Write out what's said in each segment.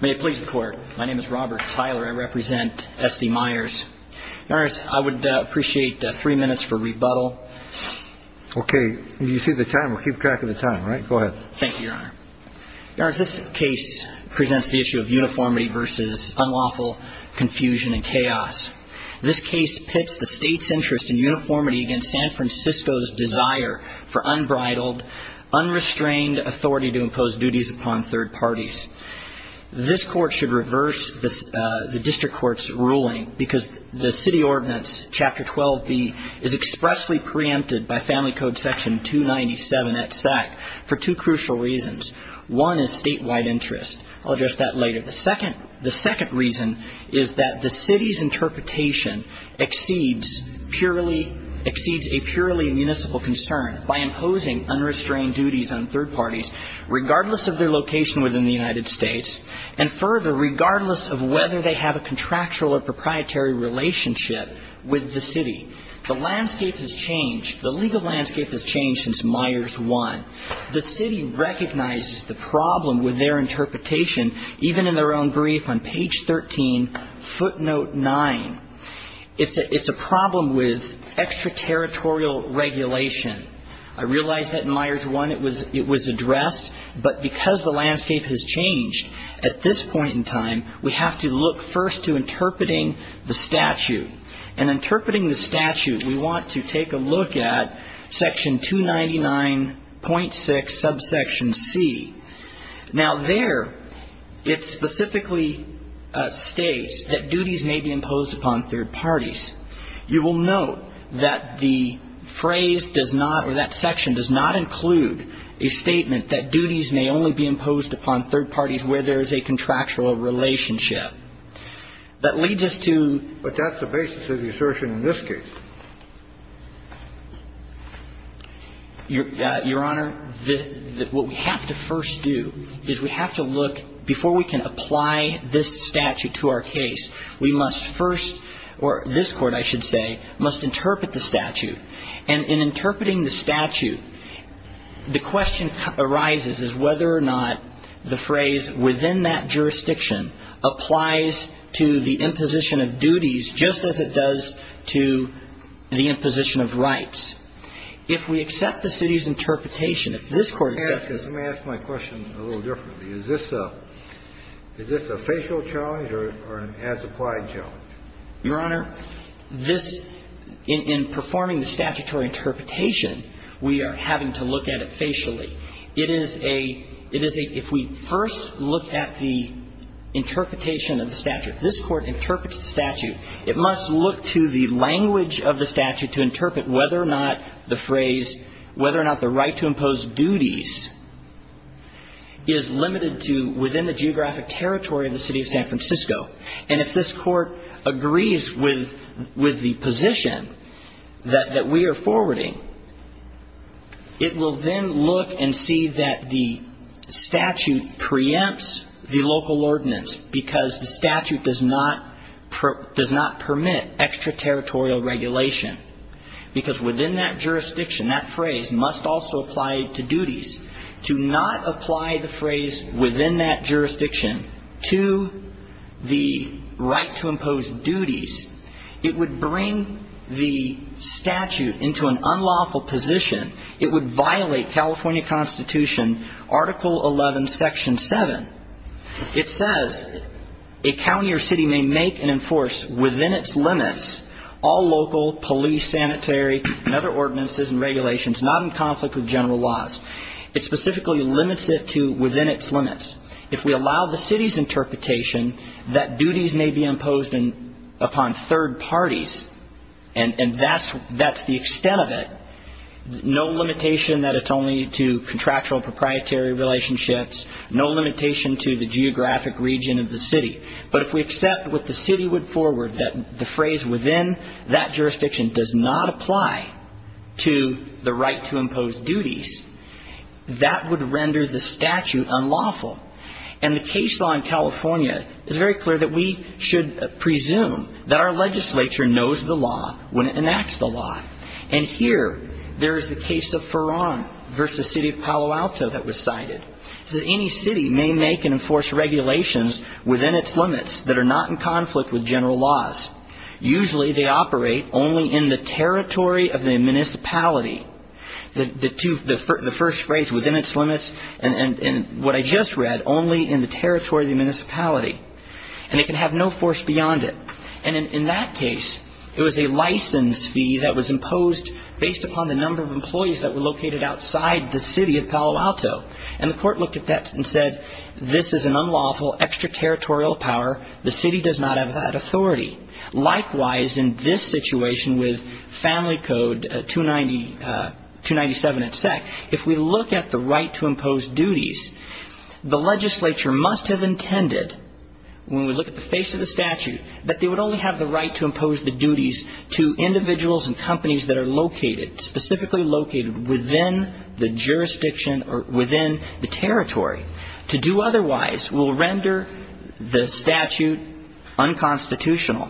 May it please the Court. My name is Robert Tyler. I represent S.D. Myers. Your Honor, I would appreciate three minutes for rebuttal. OK. You see the time. We'll keep track of the time, right? Go ahead. Thank you, Your Honor. Your Honor, this case presents the issue of uniformity versus unlawful confusion and chaos. This case pits the State's interest in uniformity against San Francisco's desire for unbridled, unrestrained authority to impose duties upon third parties. This Court should reverse the District Court's ruling because the City Ordinance, Chapter 12b, is expressly preempted by Family Code Section 297 at SAC for two crucial reasons. One is statewide interest. I'll address that later. The second reason is that the City's interpretation exceeds a purely municipal concern by imposing unrestrained duties on third parties, regardless of their location within the United States, and further, regardless of whether they have a contractual or proprietary relationship with the City. The landscape has changed. The legal landscape has changed since Myers 1. The City recognizes the problem with their interpretation, even in their own brief on page 13, footnote 9. It's a problem with extraterritorial regulation. I realize that in Myers 1 it was addressed, but because the landscape has changed at this point in time, we have to look first to interpreting the statute. And interpreting the statute, we want to take a look at Section 299.6, subsection C. Now there, it specifically states that duties may be imposed upon third parties. You will note that the phrase does not, or that section does not include a statement that duties may only be imposed upon third parties where there is a contractual relationship. That leads us to the basis of the assertion in this case. Your Honor, what we have to first do is we have to look, before we can apply this statute to our case, we must first, or this Court, I should say, must interpret the statute. And in interpreting the statute, the question arises is whether or not the phrase, within that jurisdiction, applies to the imposition of duties just as it does to the imposition of rights. If we accept the City's interpretation, if this Court accepts it… Let me ask my question a little differently. Is this a facial challenge or an as-applied challenge? Your Honor, this, in performing the statutory interpretation, we are having to look at it facially. It is a, it is a, if we first look at the interpretation of the statute, this Court interprets the statute, it must look to the language of the statute to interpret whether or not the phrase, whether or not the right to impose duties is limited to within the geographic territory of the City of San Francisco. And if this Court agrees with, with the position that, that we are forwarding, it will then look and see that the statute preempts the local ordinance, because the statute does not, does not permit extraterritorial regulation. Because within that jurisdiction, that phrase must also apply to duties. To not apply the phrase, within that jurisdiction, to the right to impose duties, it would bring the statute into an unlawful position. It would violate California Constitution, Article 11, Section 7. It says, a county or city may make and enforce within its limits all local police, sanitary, and other ordinances and regulations, not in conflict with general laws. It specifically limits it to within its limits. If we allow the city's interpretation that duties may be imposed upon third parties, and that's, that's the extent of it, no limitation that it's only to contractual proprietary relationships, no limitation to the geographic region of the city. But if we accept what the city would forward, that the phrase within that jurisdiction does not apply to the right to impose duties, that would render the statute unlawful. And the case law in California is very clear that we should presume that our legislature knows the law when it enacts the law. And here, there is the case of Farran versus City of Palo Alto that was cited. It says, any city may make and enforce regulations within its limits that are not in conflict with general laws. Usually they operate only in the territory of the municipality. The two, the first phrase, within its limits, and what I just read, only in the territory of the municipality. And it can have no force beyond it. And in that case, it was a license fee that was imposed based upon the number of employees that were located outside the city of Palo Alto. And the court looked at that and said, this is an unlawful extraterritorial power. The city does not have that authority. Likewise, in this situation with Family Code 297, it said, if we look at the right to impose duties, the legislature must have intended, when we look at the face of the statute, that they would only have the right to impose the duties to individuals and companies that are located, specifically located within the jurisdiction or within the territory. To do otherwise will render the statute unconstitutional.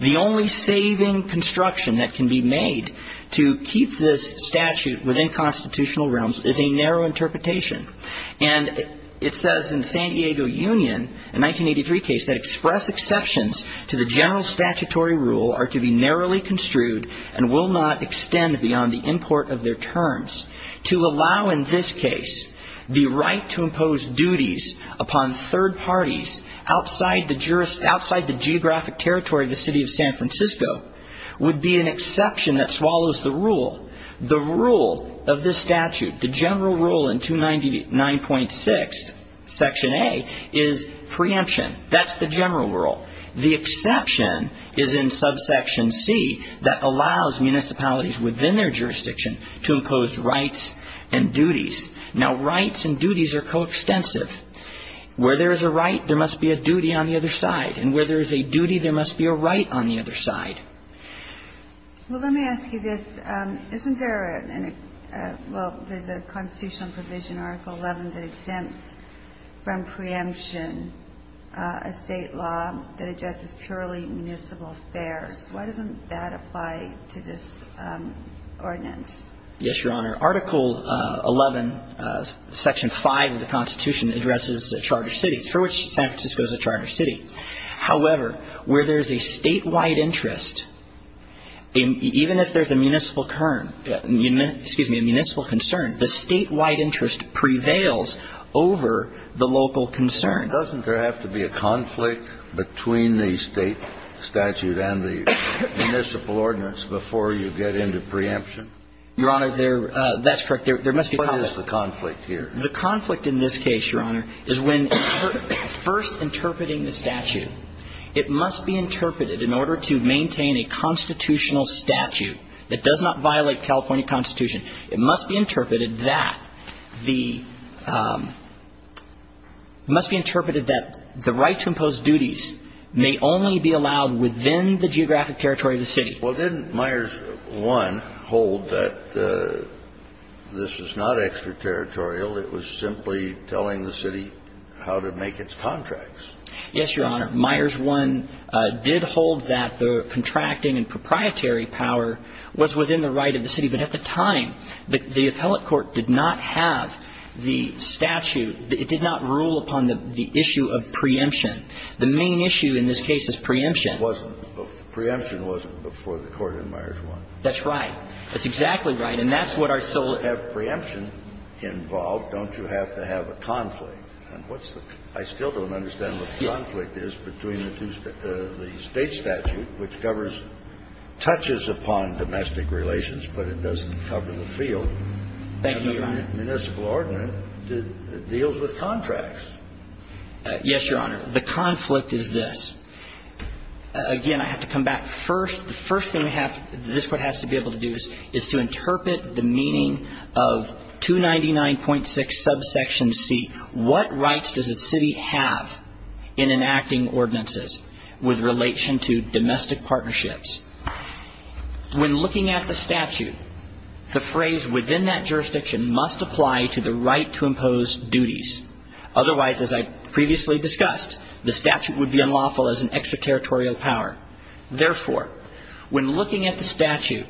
The only saving construction that can be made to keep this statute within constitutional realms is a narrow interpretation. And it says in the San Diego Union, a 1983 case, that express exceptions to the general statutory rule are to be narrowly construed and will not extend beyond the import of their terms. To allow, in this case, the right to impose duties upon third parties outside the geographic territory of the city of San Francisco would be an exception that swallows the rule. The rule of this statute, the general rule in 299.6, section A, is preemption. That's the general rule. The exception is in subsection C that allows municipalities within their jurisdiction to impose rights and duties. Now, rights and duties are coextensive. Where there is a right, there must be a duty on the other side. And where there is a duty, there must be a right on the other side. Well, let me ask you this. Isn't there a – well, there's a constitutional provision, Article 11, that exempts from preemption a State law that addresses purely municipal affairs. Why doesn't that apply to this ordinance? Yes, Your Honor. Article 11, Section 5 of the Constitution, addresses charter cities, for which San Francisco is a charter city. However, where there's a statewide interest, even if there's a municipal concern, the statewide interest prevails over the local concern. Doesn't there have to be a conflict between the State statute and the municipal ordinance before you get into preemption? Your Honor, that's correct. There must be a conflict. What is the conflict here? The conflict in this case, Your Honor, is when first interpreting the statute, it must be interpreted in order to maintain a constitutional statute that does not violate California Constitution. It must be interpreted that the – it must be interpreted that the right to impose duties may only be allowed within the geographic territory of the city. Well, didn't Myers 1 hold that this was not extraterritorial, it was simply telling the city how to make its contracts? Yes, Your Honor. Myers 1 did hold that the contracting and proprietary power was within the right of the city. But at the time, the appellate court did not have the statute. It did not rule upon the issue of preemption. The main issue in this case is preemption. It wasn't. Preemption wasn't before the court in Myers 1. That's right. That's exactly right. And that's what our sole – If you have preemption involved, don't you have to have a conflict? And what's the – I still don't understand what the conflict is between the two – the State statute, which covers – touches upon domestic relations, but it doesn't cover the field. Thank you, Your Honor. And the municipal ordinance deals with contracts. Yes, Your Honor. The conflict is this. Again, I have to come back. First, the first thing this court has to be able to do is to interpret the meaning of 299.6 subsection C. What rights does a city have in enacting ordinances with relation to domestic partnerships? When looking at the statute, the phrase within that jurisdiction must apply to the right to impose duties. Otherwise, as I previously discussed, the statute would be unlawful as an extraterritorial power. Therefore, when looking at the statute,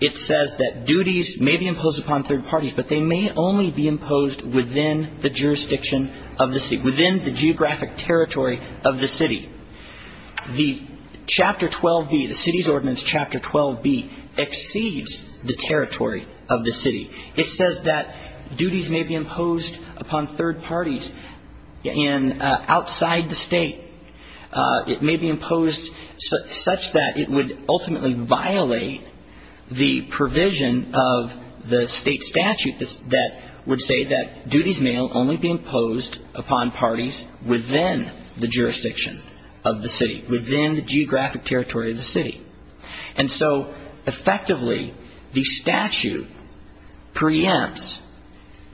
it says that duties may be imposed upon third parties, but they may only be imposed within the jurisdiction of the city, within the geographic territory of the city. The Chapter 12B, the city's ordinance Chapter 12B, exceeds the territory of the city. It says that duties may be imposed upon third parties outside the state. It may be imposed such that it would ultimately violate the provision of the state statute that would say that duties may only be imposed upon parties within the jurisdiction of the city, within the geographic territory of the city. And so, effectively, the statute preempts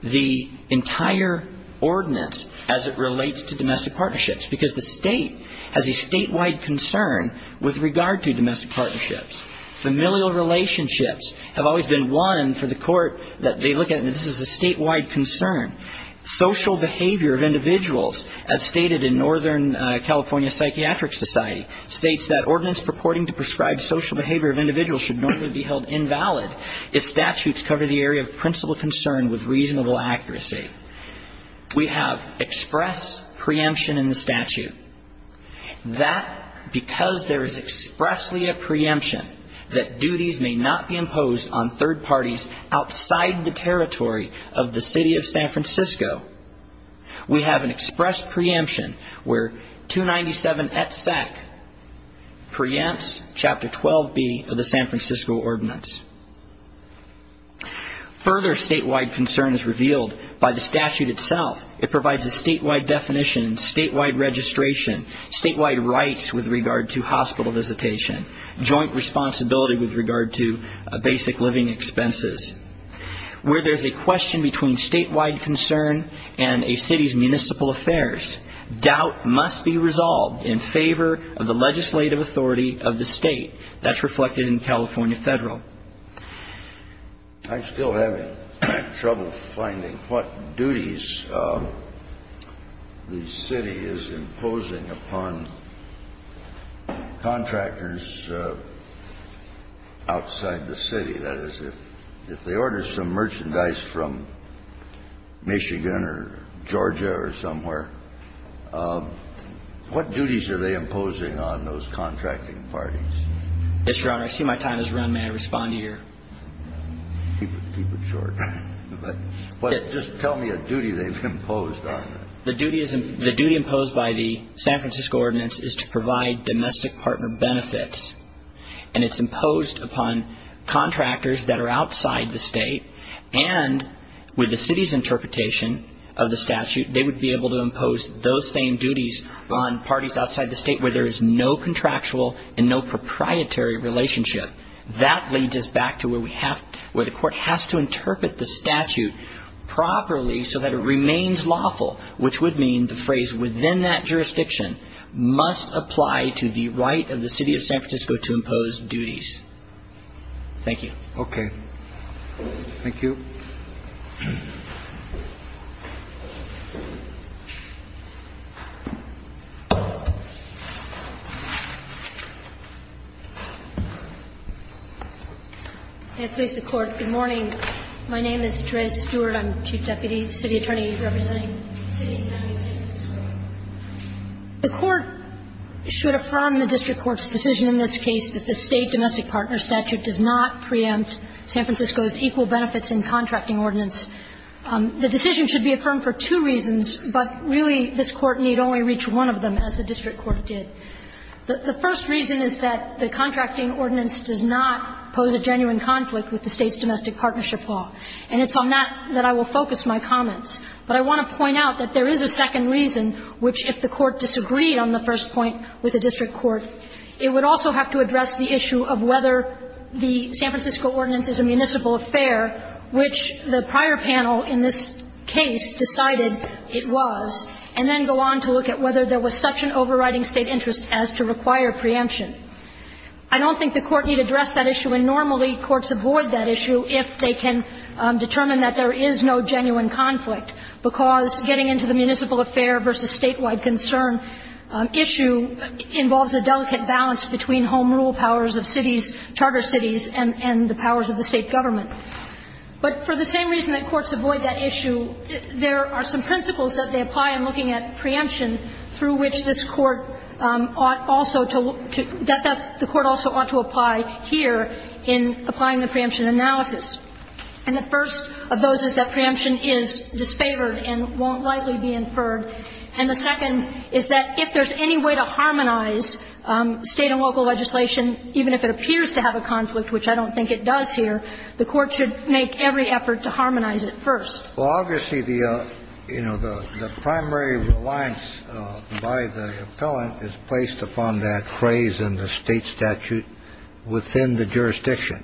the entire ordinance as it relates to domestic partnerships, because the state has a statewide concern with regard to domestic partnerships. Familial relationships have always been one for the court that they look at this as a statewide concern. Social behavior of individuals, as stated in Northern California Psychiatric Society, states that ordinance purporting to prescribe social behavior of individuals should normally be held invalid if statutes cover the area of principal concern with reasonable accuracy. We have express preemption in the statute. That, because there is expressly a preemption that duties may not be imposed on third parties outside the territory of the city of San Francisco. We have an express preemption where 297et sec preempts Chapter 12B of the San Francisco Ordinance. Further statewide concern is revealed by the statute itself. It provides a statewide definition, statewide registration, statewide rights with regard to hospital visitation, joint responsibility with regard to basic living expenses. Where there's a question between statewide concern and a city's municipal affairs, doubt must be resolved in favor of the legislative authority of the state. That's reflected in California Federal. I'm still having trouble finding what duties the city is imposing upon contractors outside the city. That is, if they order some merchandise from Michigan or Georgia or somewhere, what duties are they imposing on those contracting parties? Yes, Your Honor. I see my time has run. May I respond to your? Keep it short. But just tell me a duty they've imposed on them. The duty imposed by the San Francisco Ordinance is to provide domestic partner benefits. And it's imposed upon contractors that are outside the state. And with the city's interpretation of the statute, they would be able to impose those same duties on parties outside the state where there is no contractual and no proprietary relationship. That leads us back to where the court has to interpret the statute properly so that it remains lawful, which would mean the phrase within that jurisdiction must apply to the right of the city of San Francisco to impose duties. Thank you. Okay. Thank you. May it please the Court. Good morning. My name is Therese Stewart. I'm the Chief Deputy City Attorney representing the city and county of San Francisco. The Court should affirm the district court's decision in this case that the state domestic partner statute does not preempt San Francisco's equal benefits in contracting ordinance. The decision should be affirmed for two reasons, but really this Court need only reach one of them, as the district court did. The first reason is that the contracting ordinance does not pose a genuine conflict with the state's domestic partnership law. And it's on that that I will focus my comments. But I want to point out that there is a second reason, which if the Court disagreed on the first point with the district court, it would also have to address the issue of whether the San Francisco ordinance is a municipal affair, which the prior panel in this case decided it was, and then go on to look at whether there was such an overriding state interest as to require preemption. I don't think the Court need address that issue, and normally courts avoid that issue if they can determine that there is no genuine conflict, because getting into the municipal affair versus statewide concern issue involves a delicate balance between home rule powers of cities, charter cities, and the powers of the state government. But for the same reason that courts avoid that issue, there are some principles that they apply in looking at preemption through which this Court ought also to look to – that the Court also ought to apply here in applying the preemption analysis. And the first of those is that preemption is disfavored and won't likely be inferred. And the second is that if there's any way to harmonize state and local legislation, even if it appears to have a conflict, which I don't think it does here, the Court should make every effort to harmonize it first. Well, obviously, you know, the primary reliance by the appellant is placed upon that phrase in the state statute within the jurisdiction.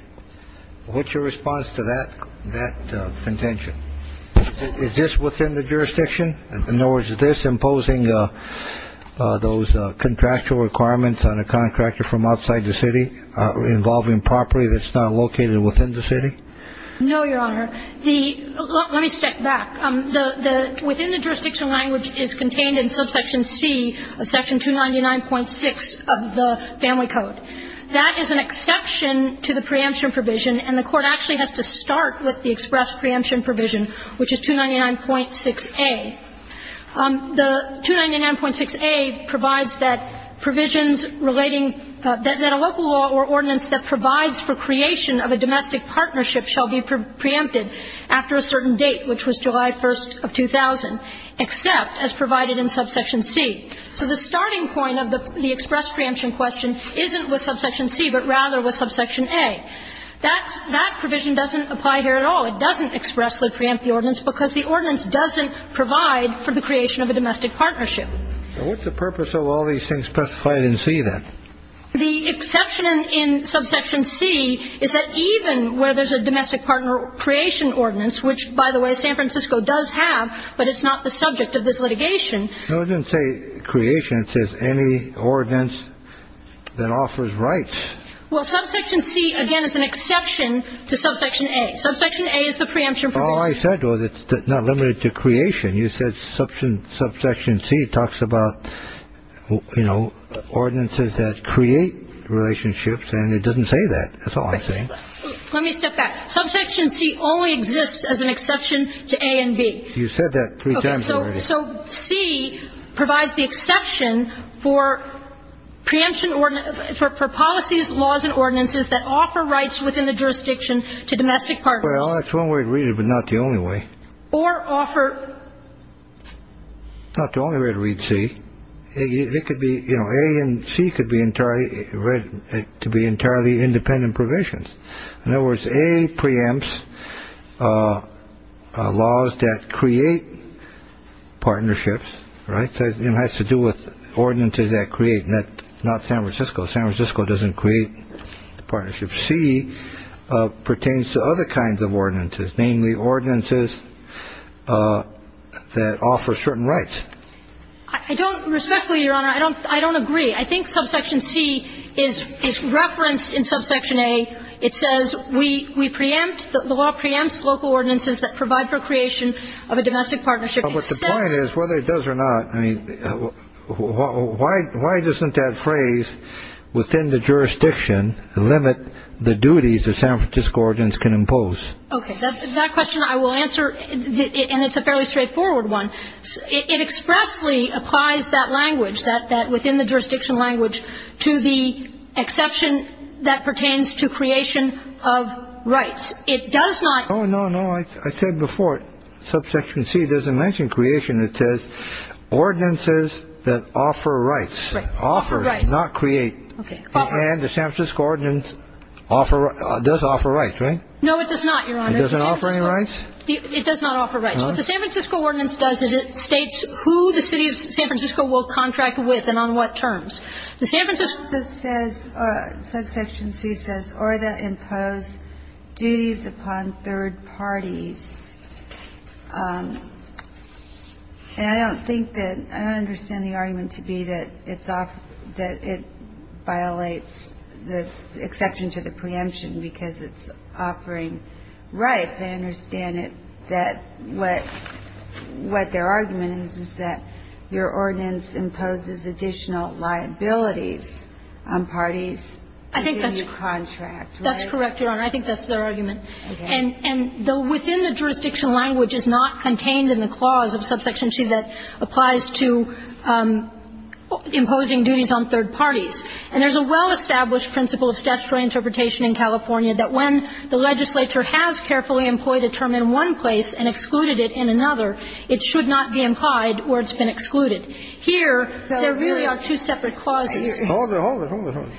What's your response to that contention? Is this within the jurisdiction? In other words, is this imposing those contractual requirements on a contractor from outside the city involving property that's not located within the city? No, Your Honor. The – let me step back. The – within the jurisdiction language is contained in subsection C of section 299.6 of the Family Code. That is an exception to the preemption provision, and the Court actually has to start with the express preemption provision, which is 299.6a. The 299.6a provides that provisions relating – that a local law or ordinance that provides for creation of a domestic partnership shall be preempted after a certain date, which was July 1st of 2000, except as provided in subsection C. So the starting point of the express preemption question isn't with subsection C, but rather with subsection A. That provision doesn't apply here at all. It doesn't expressly preempt the ordinance because the ordinance doesn't provide for the creation of a domestic partnership. What's the purpose of all these things specified in C, then? The exception in subsection C is that even where there's a domestic partner creation ordinance, which, by the way, San Francisco does have, but it's not the subject of this litigation. No, it didn't say creation. It says any ordinance that offers rights. Well, subsection C, again, is an exception to subsection A. Subsection A is the preemption provision. All I said was it's not limited to creation. You said subsection C talks about, you know, ordinances that create relationships, and it doesn't say that. That's all I'm saying. Let me step back. Subsection C only exists as an exception to A and B. You said that three times already. Okay. So C provides the exception for preemption – for policies, laws, and ordinances that offer rights within the jurisdiction to domestic partners. Well, that's one way to read it, but not the only way. Or offer. Not the only way to read C. It could be, you know, A and C could be entirely read to be entirely independent provisions. In other words, A preempts laws that create partnerships. Right. It has to do with ordinances that create that. Not San Francisco. San Francisco doesn't create partnerships. Subsection C pertains to other kinds of ordinances, namely ordinances that offer certain rights. I don't – respectfully, Your Honor, I don't agree. I think subsection C is referenced in subsection A. It says we preempt – the law preempts local ordinances that provide for creation of a domestic partnership except – But the point is, whether it does or not – I mean, why doesn't that phrase within the jurisdiction limit the duties that San Francisco ordinance can impose? Okay. That question I will answer, and it's a fairly straightforward one. It expressly applies that language, that within the jurisdiction language, to the exception that pertains to creation of rights. It does not – Oh, no, no. I said before, subsection C doesn't mention creation. It says ordinances that offer rights. Right. Not create. Okay. And the San Francisco ordinance offer – does offer rights, right? No, it does not, Your Honor. It doesn't offer any rights? It does not offer rights. What the San Francisco ordinance does is it states who the city of San Francisco will contract with and on what terms. The San Francisco – This says – subsection C says, or that impose duties upon third parties. And I don't think that – I don't understand the argument to be that it's – that it violates the exception to the preemption because it's offering rights. I understand it that what their argument is, is that your ordinance imposes additional liabilities on parties who give you contract, right? That's correct, Your Honor. I think that's their argument. Okay. And within the jurisdiction, language is not contained in the clause of subsection C that applies to imposing duties on third parties. And there's a well-established principle of statutory interpretation in California that when the legislature has carefully employed a term in one place and excluded it in another, it should not be implied or it's been excluded. Here, there really are two separate clauses. Hold it, hold it, hold it, hold it.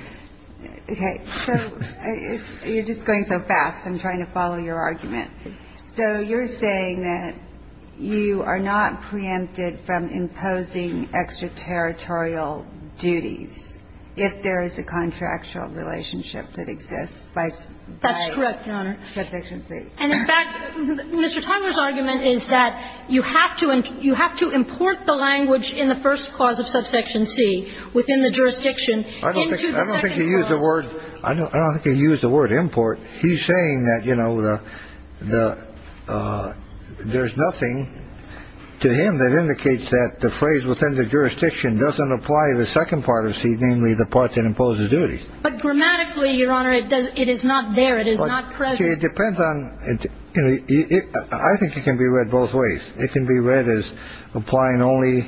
Okay. So you're just going so fast. I'm trying to follow your argument. So you're saying that you are not preempted from imposing extraterritorial duties if there is a contractual relationship that exists by – by – That's correct, Your Honor. Subsection C. And, in fact, Mr. Tyler's argument is that you have to – you have to import the language in the first clause of subsection C within the jurisdiction into the second clause. I don't think he used the word – I don't think he used the word import. He's saying that, you know, the – there's nothing to him that indicates that the phrase within the jurisdiction doesn't apply to the second part of C, namely the part that imposes duties. But grammatically, Your Honor, it does – it is not there. It is not present. See, it depends on – I think it can be read both ways. It can be read as applying only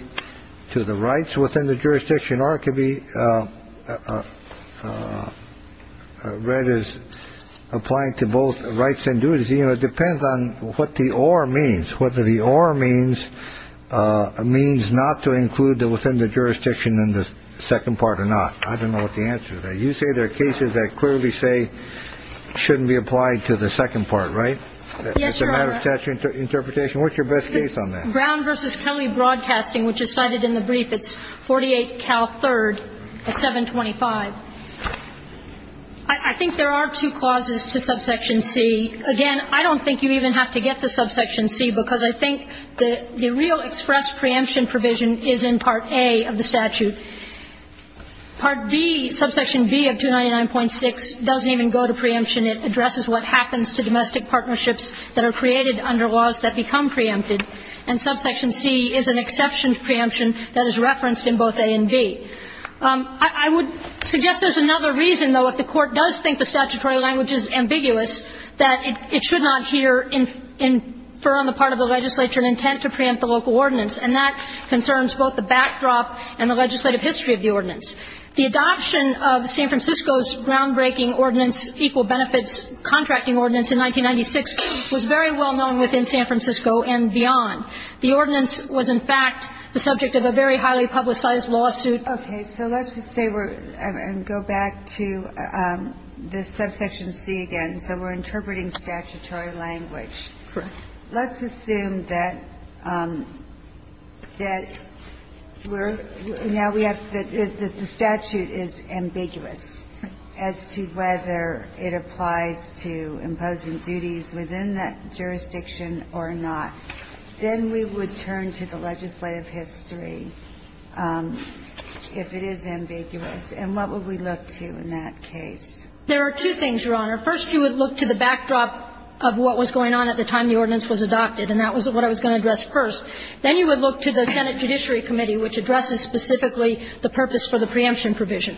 to the rights within the jurisdiction or it can be read as applying to both rights and duties. You know, it depends on what the or means, whether the or means – means not to include the within the jurisdiction in the second part or not. I don't know what the answer is. You say there are cases that clearly say shouldn't be applied to the second part, right? Yes, Your Honor. That's your interpretation? What's your best case on that? Brown v. Kelly Broadcasting, which is cited in the brief. It's 48 Cal 3rd at 725. I think there are two clauses to Subsection C. Again, I don't think you even have to get to Subsection C because I think the real express preemption provision is in Part A of the statute. Part B, Subsection B of 299.6 doesn't even go to preemption. It addresses what happens to domestic partnerships that are created under laws that become preempted, and Subsection C is an exception to preemption that is referenced in both A and B. I would suggest there's another reason, though, if the Court does think the statutory language is ambiguous, that it should not here infer on the part of the legislature an intent to preempt the local ordinance, and that concerns both the backdrop and the legislative history of the ordinance. The adoption of San Francisco's groundbreaking ordinance, Equal Benefits Contracting Ordinance in 1996, was very well known within San Francisco and beyond. The ordinance was, in fact, the subject of a very highly publicized lawsuit. Ginsburg. Okay. So let's just say we're going to go back to this Subsection C again. So we're interpreting statutory language. Correct. Let's assume that we're now we have the statute is ambiguous as to whether it applies to imposing duties within that jurisdiction or not. Then we would turn to the legislative history if it is ambiguous, and what would we look to in that case? There are two things, Your Honor. First, you would look to the backdrop of what was going on at the time the ordinance was adopted, and that was what I was going to address first. Then you would look to the Senate Judiciary Committee, which addresses specifically the purpose for the preemption provision.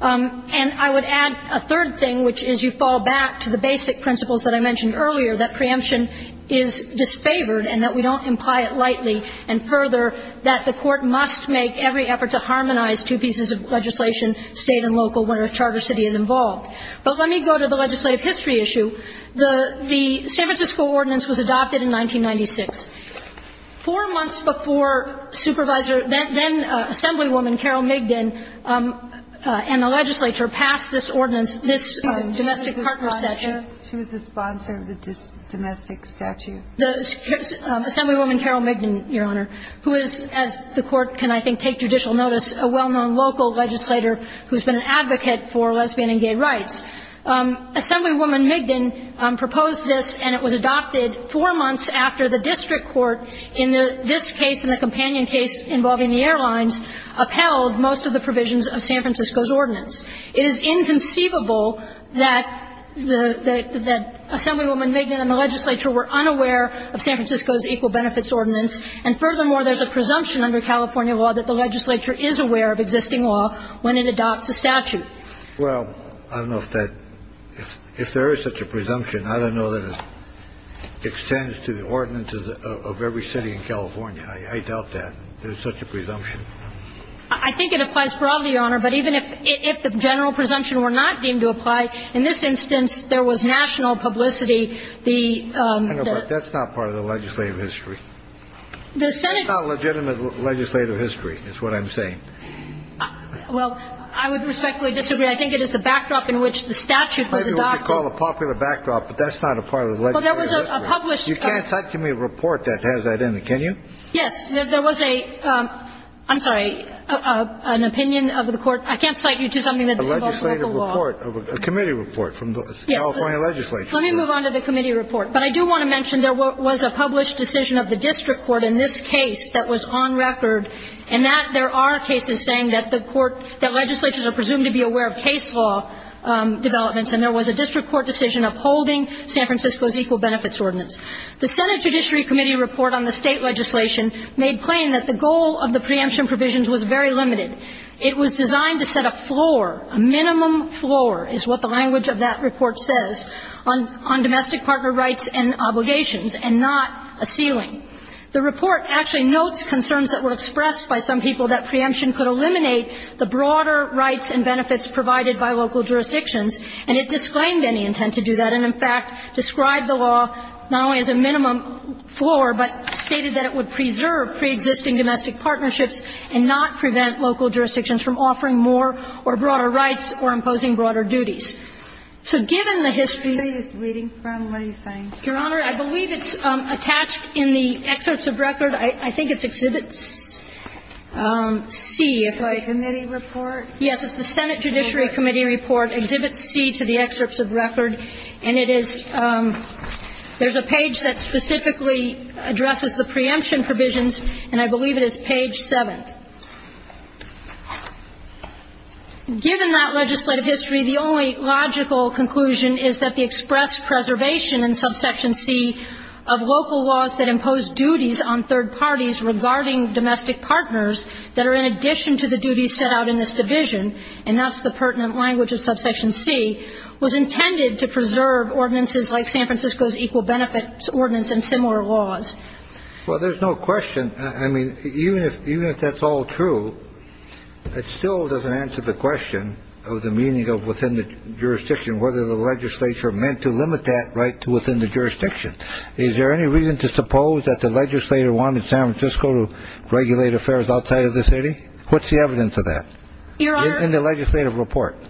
And I would add a third thing, which is you fall back to the basic principles that I mentioned earlier, that preemption is disfavored and that we don't imply it lightly, and further, that the Court must make every effort to harmonize two pieces of legislation, State and local, where a charter city is involved. But let me go to the legislative history issue. The San Francisco Ordinance was adopted in 1996. Four months before supervisor then Assemblywoman Carol Migdon and the legislature passed this ordinance, this domestic partner statute. She was the sponsor of the domestic statute. The Assemblywoman Carol Migdon, Your Honor, who is, as the Court can I think take judicial notice, a well-known local legislator who has been an advocate for lesbian and gay rights. Assemblywoman Migdon proposed this, and it was adopted four months after the district court in this case and the companion case involving the airlines upheld most of the provisions of San Francisco's ordinance. It is inconceivable that the Assemblywoman Migdon and the legislature were unaware of San Francisco's Equal Benefits Ordinance. And furthermore, there's a presumption under California law that the legislature is aware of existing law when it adopts a statute. Well, I don't know if that – if there is such a presumption. I don't know that it extends to the ordinance of every city in California. I doubt that there's such a presumption. I think it applies broadly, Your Honor. But even if the general presumption were not deemed to apply, in this instance there was national publicity, the – Hang on a minute. That's not part of the legislative history. The Senate – It's not legitimate legislative history is what I'm saying. Well, I would respectfully disagree. I think it is the backdrop in which the statute was adopted. Maybe what you call a popular backdrop, but that's not a part of the legislative history. Well, there was a published – You can't cite to me a report that has that in it, can you? Yes. There was a – I'm sorry, an opinion of the court. I can't cite you to something that involves local law. A legislative report, a committee report from the California legislature. Yes. Let me move on to the committee report. But I do want to mention there was a published decision of the district court in this case that was on record, and that there are cases saying that the court – that legislatures are presumed to be aware of case law developments, and there was a district court decision upholding San Francisco's Equal Benefits Ordinance. The Senate Judiciary Committee report on the state legislation made plain that the goal of the preemption provisions was very limited. It was designed to set a floor, a minimum floor is what the language of that report says, on domestic partner rights and obligations and not a ceiling. The report actually notes concerns that were expressed by some people that preemption could eliminate the broader rights and benefits provided by local jurisdictions, and it disclaimed any intent to do that and, in fact, described the law not only as a minimum floor, but stated that it would preserve preexisting domestic partnerships and not prevent local jurisdictions from offering more or broader rights or imposing broader duties. So given the history – Are you just reading from what he's saying? Your Honor, I believe it's attached in the excerpts of record. I think it's Exhibit C, if I – The committee report? Yes. It's the Senate Judiciary Committee report, Exhibit C to the excerpts of record. And it is – there's a page that specifically addresses the preemption provisions, and I believe it is page 7. Given that legislative history, the only logical conclusion is that the express preservation in Subsection C of local laws that impose duties on third parties regarding domestic partners that are in addition to the duties set out in this division – and that's the pertinent language of Subsection C – was intended to preserve ordinances like San Francisco's Equal Benefits Ordinance and similar laws. Well, there's no question. I mean, even if that's all true, it still doesn't answer the question of the meaning of within the jurisdiction, whether the legislature meant to limit that right to within the jurisdiction. Is there any reason to suppose that the legislator wanted San Francisco to regulate affairs outside of the city? What's the evidence of that in the legislative report? Your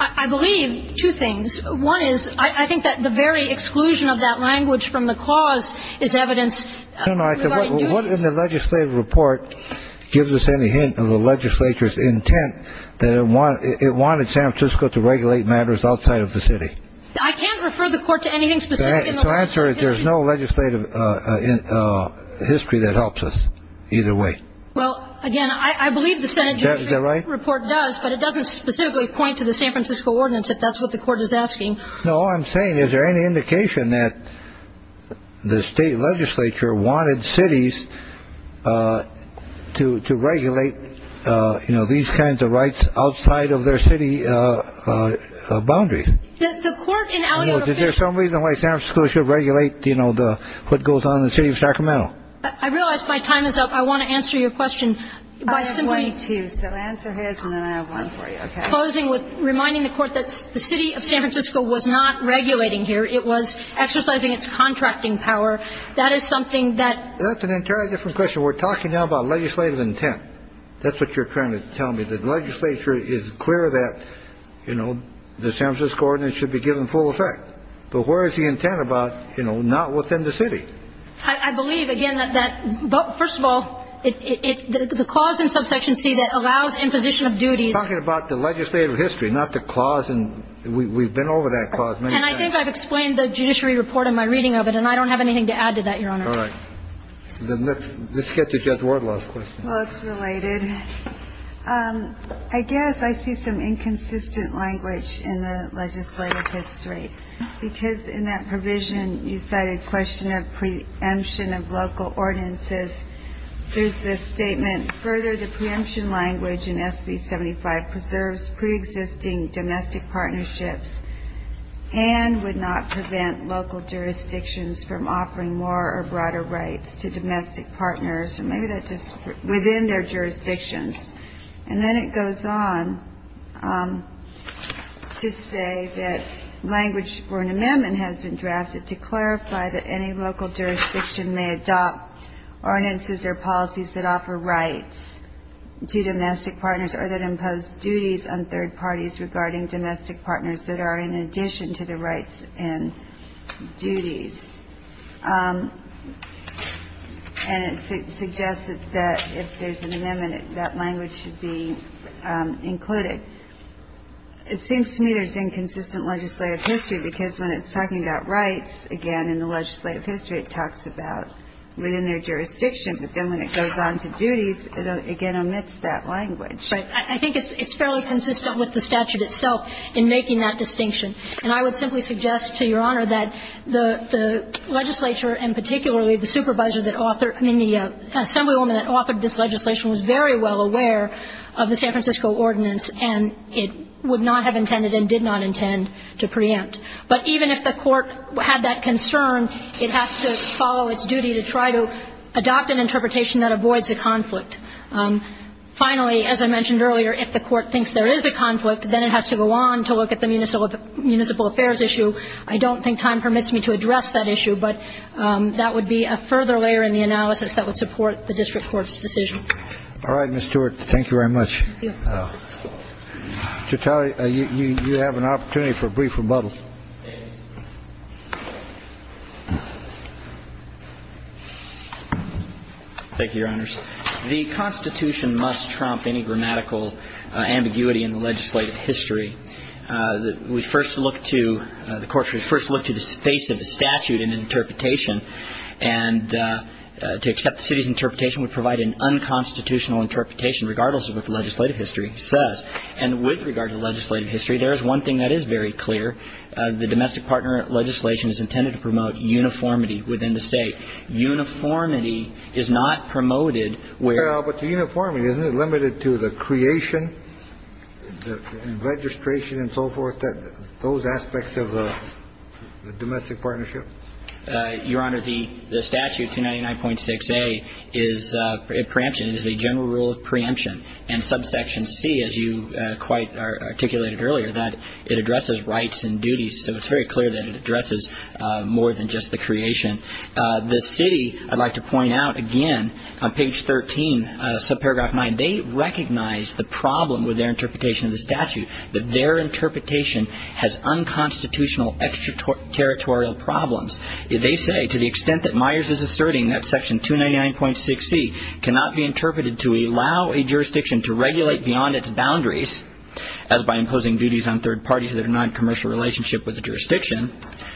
Honor, I believe two things. One is I think that the very exclusion of that language from the clause is evidence regarding duties. No, no, I said what in the legislative report gives us any hint of the legislature's intent that it wanted San Francisco to regulate matters outside of the city. I can't refer the Court to anything specific in the legislative history. To answer it, there's no legislative history that helps us either way. Well, again, I believe the Senate Judiciary Report does, but it doesn't specifically point to the San Francisco Ordinance, if that's what the Court is asking. No, all I'm saying, is there any indication that the state legislature wanted cities to regulate, you know, these kinds of rights outside of their city boundaries? The Court in our view. Is there some reason why San Francisco should regulate, you know, what goes on in the city of Sacramento? I realize my time is up. I want to answer your question. I have one, too, so answer his and then I have one for you, okay? Closing with reminding the Court that the city of San Francisco was not regulating here. It was exercising its contracting power. That is something that. That's an entirely different question. We're talking now about legislative intent. That's what you're trying to tell me, that the legislature is clear that, you know, the San Francisco Ordinance should be given full effect. But where is the intent about, you know, not within the city? I believe, again, that that. First of all, it's the clause in subsection C that allows imposition of duties. We're talking about the legislative history, not the clause in. We've been over that clause many times. And I think I've explained the judiciary report in my reading of it, and I don't have anything to add to that, Your Honor. All right. Then let's get to Judge Wardlaw's question. Well, it's related. I guess I see some inconsistent language in the legislative history, because in that provision, you cited question of preemption of local ordinances. There's this statement, further, the preemption language in SB 75 preserves preexisting domestic partnerships and would not prevent local jurisdictions from offering more or broader rights to domestic partners, or maybe that's just within their jurisdictions. And then it goes on to say that language for an amendment has been drafted to clarify that any local jurisdiction may adopt ordinances or policies that offer rights to domestic partners or that impose duties on third parties regarding domestic partners that are in addition to the rights and duties. And it suggests that if there's an amendment, that language should be included. It seems to me there's inconsistent legislative history, because when it's talking about rights, again, in the legislative history, it talks about within their jurisdiction. But then when it goes on to duties, it again omits that language. Right. I think it's fairly consistent with the statute itself in making that distinction. And I would simply suggest to Your Honor that the legislature and particularly the supervisor that authored, I mean, the assemblywoman that authored this legislation was very well aware of the San Francisco ordinance, and it would not have intended and did not intend to preempt. But even if the court had that concern, it has to follow its duty to try to adopt an interpretation that avoids a conflict. Finally, as I mentioned earlier, if the court thinks there is a conflict, then it has to go on to look at the municipal affairs issue. I don't think time permits me to address that issue, but that would be a further layer in the analysis that would support the district court's decision. All right, Ms. Stewart. Thank you very much. Thank you. Mr. Talley, you have an opportunity for a brief rebuttal. Thank you, Your Honors. The Constitution must trump any grammatical ambiguity in the legislative history. We first look to the courts, we first look to the face of the statute in interpretation, and to accept the city's interpretation would provide an unconstitutional interpretation regardless of what the legislative history says. And with regard to legislative history, there is one thing that is very clear. The domestic partner legislation is intended to promote uniformity within the state. Uniformity is not promoted where the uniformity is limited to the creation, the registration and so forth, that those aspects of the domestic partnership. Your Honor, the statute, 299.6a, is a preemption, is a general rule of preemption. And subsection c, as you quite articulated earlier, that it addresses rights and duties. So it's very clear that it addresses more than just the creation. The city, I'd like to point out again, on page 13, subparagraph 9, they recognize the problem with their interpretation of the statute, that their interpretation has unconstitutional extraterritorial problems. They say, to the extent that Myers is asserting that section 299.6c cannot be interpreted to allow a jurisdiction to regulate beyond its boundaries, as by imposing duties on third parties that are not in a commercial relationship with the jurisdiction,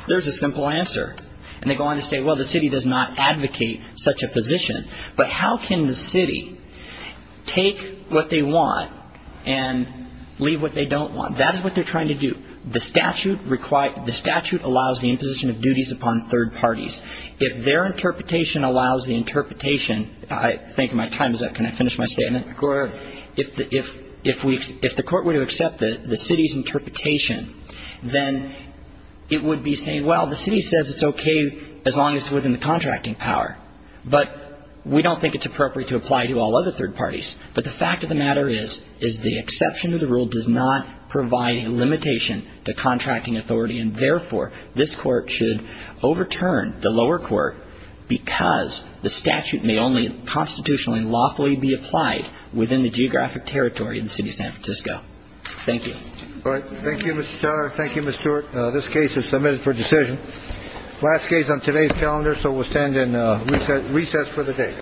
there's a simple answer. And they go on to say, well, the city does not advocate such a position. But how can the city take what they want and leave what they don't want? That is what they're trying to do. The statute allows the imposition of duties upon third parties. If their interpretation allows the interpretation, I think my time is up. Can I finish my statement? Go ahead. If the court were to accept the city's interpretation, then it would be saying, well, the city says it's okay as long as it's within the contracting power. But we don't think it's appropriate to apply to all other third parties. But the fact of the matter is, is the exception to the rule does not provide a limitation to contracting authority, and therefore, this Court should overturn the lower court because the statute may only constitutionally and lawfully be applied within the geographic territory of the city of San Francisco. Thank you. All right. Thank you, Mr. Starr. Thank you, Mr. Stewart. This case is submitted for decision. Last case on today's calendar, so we'll stand in recess for the day.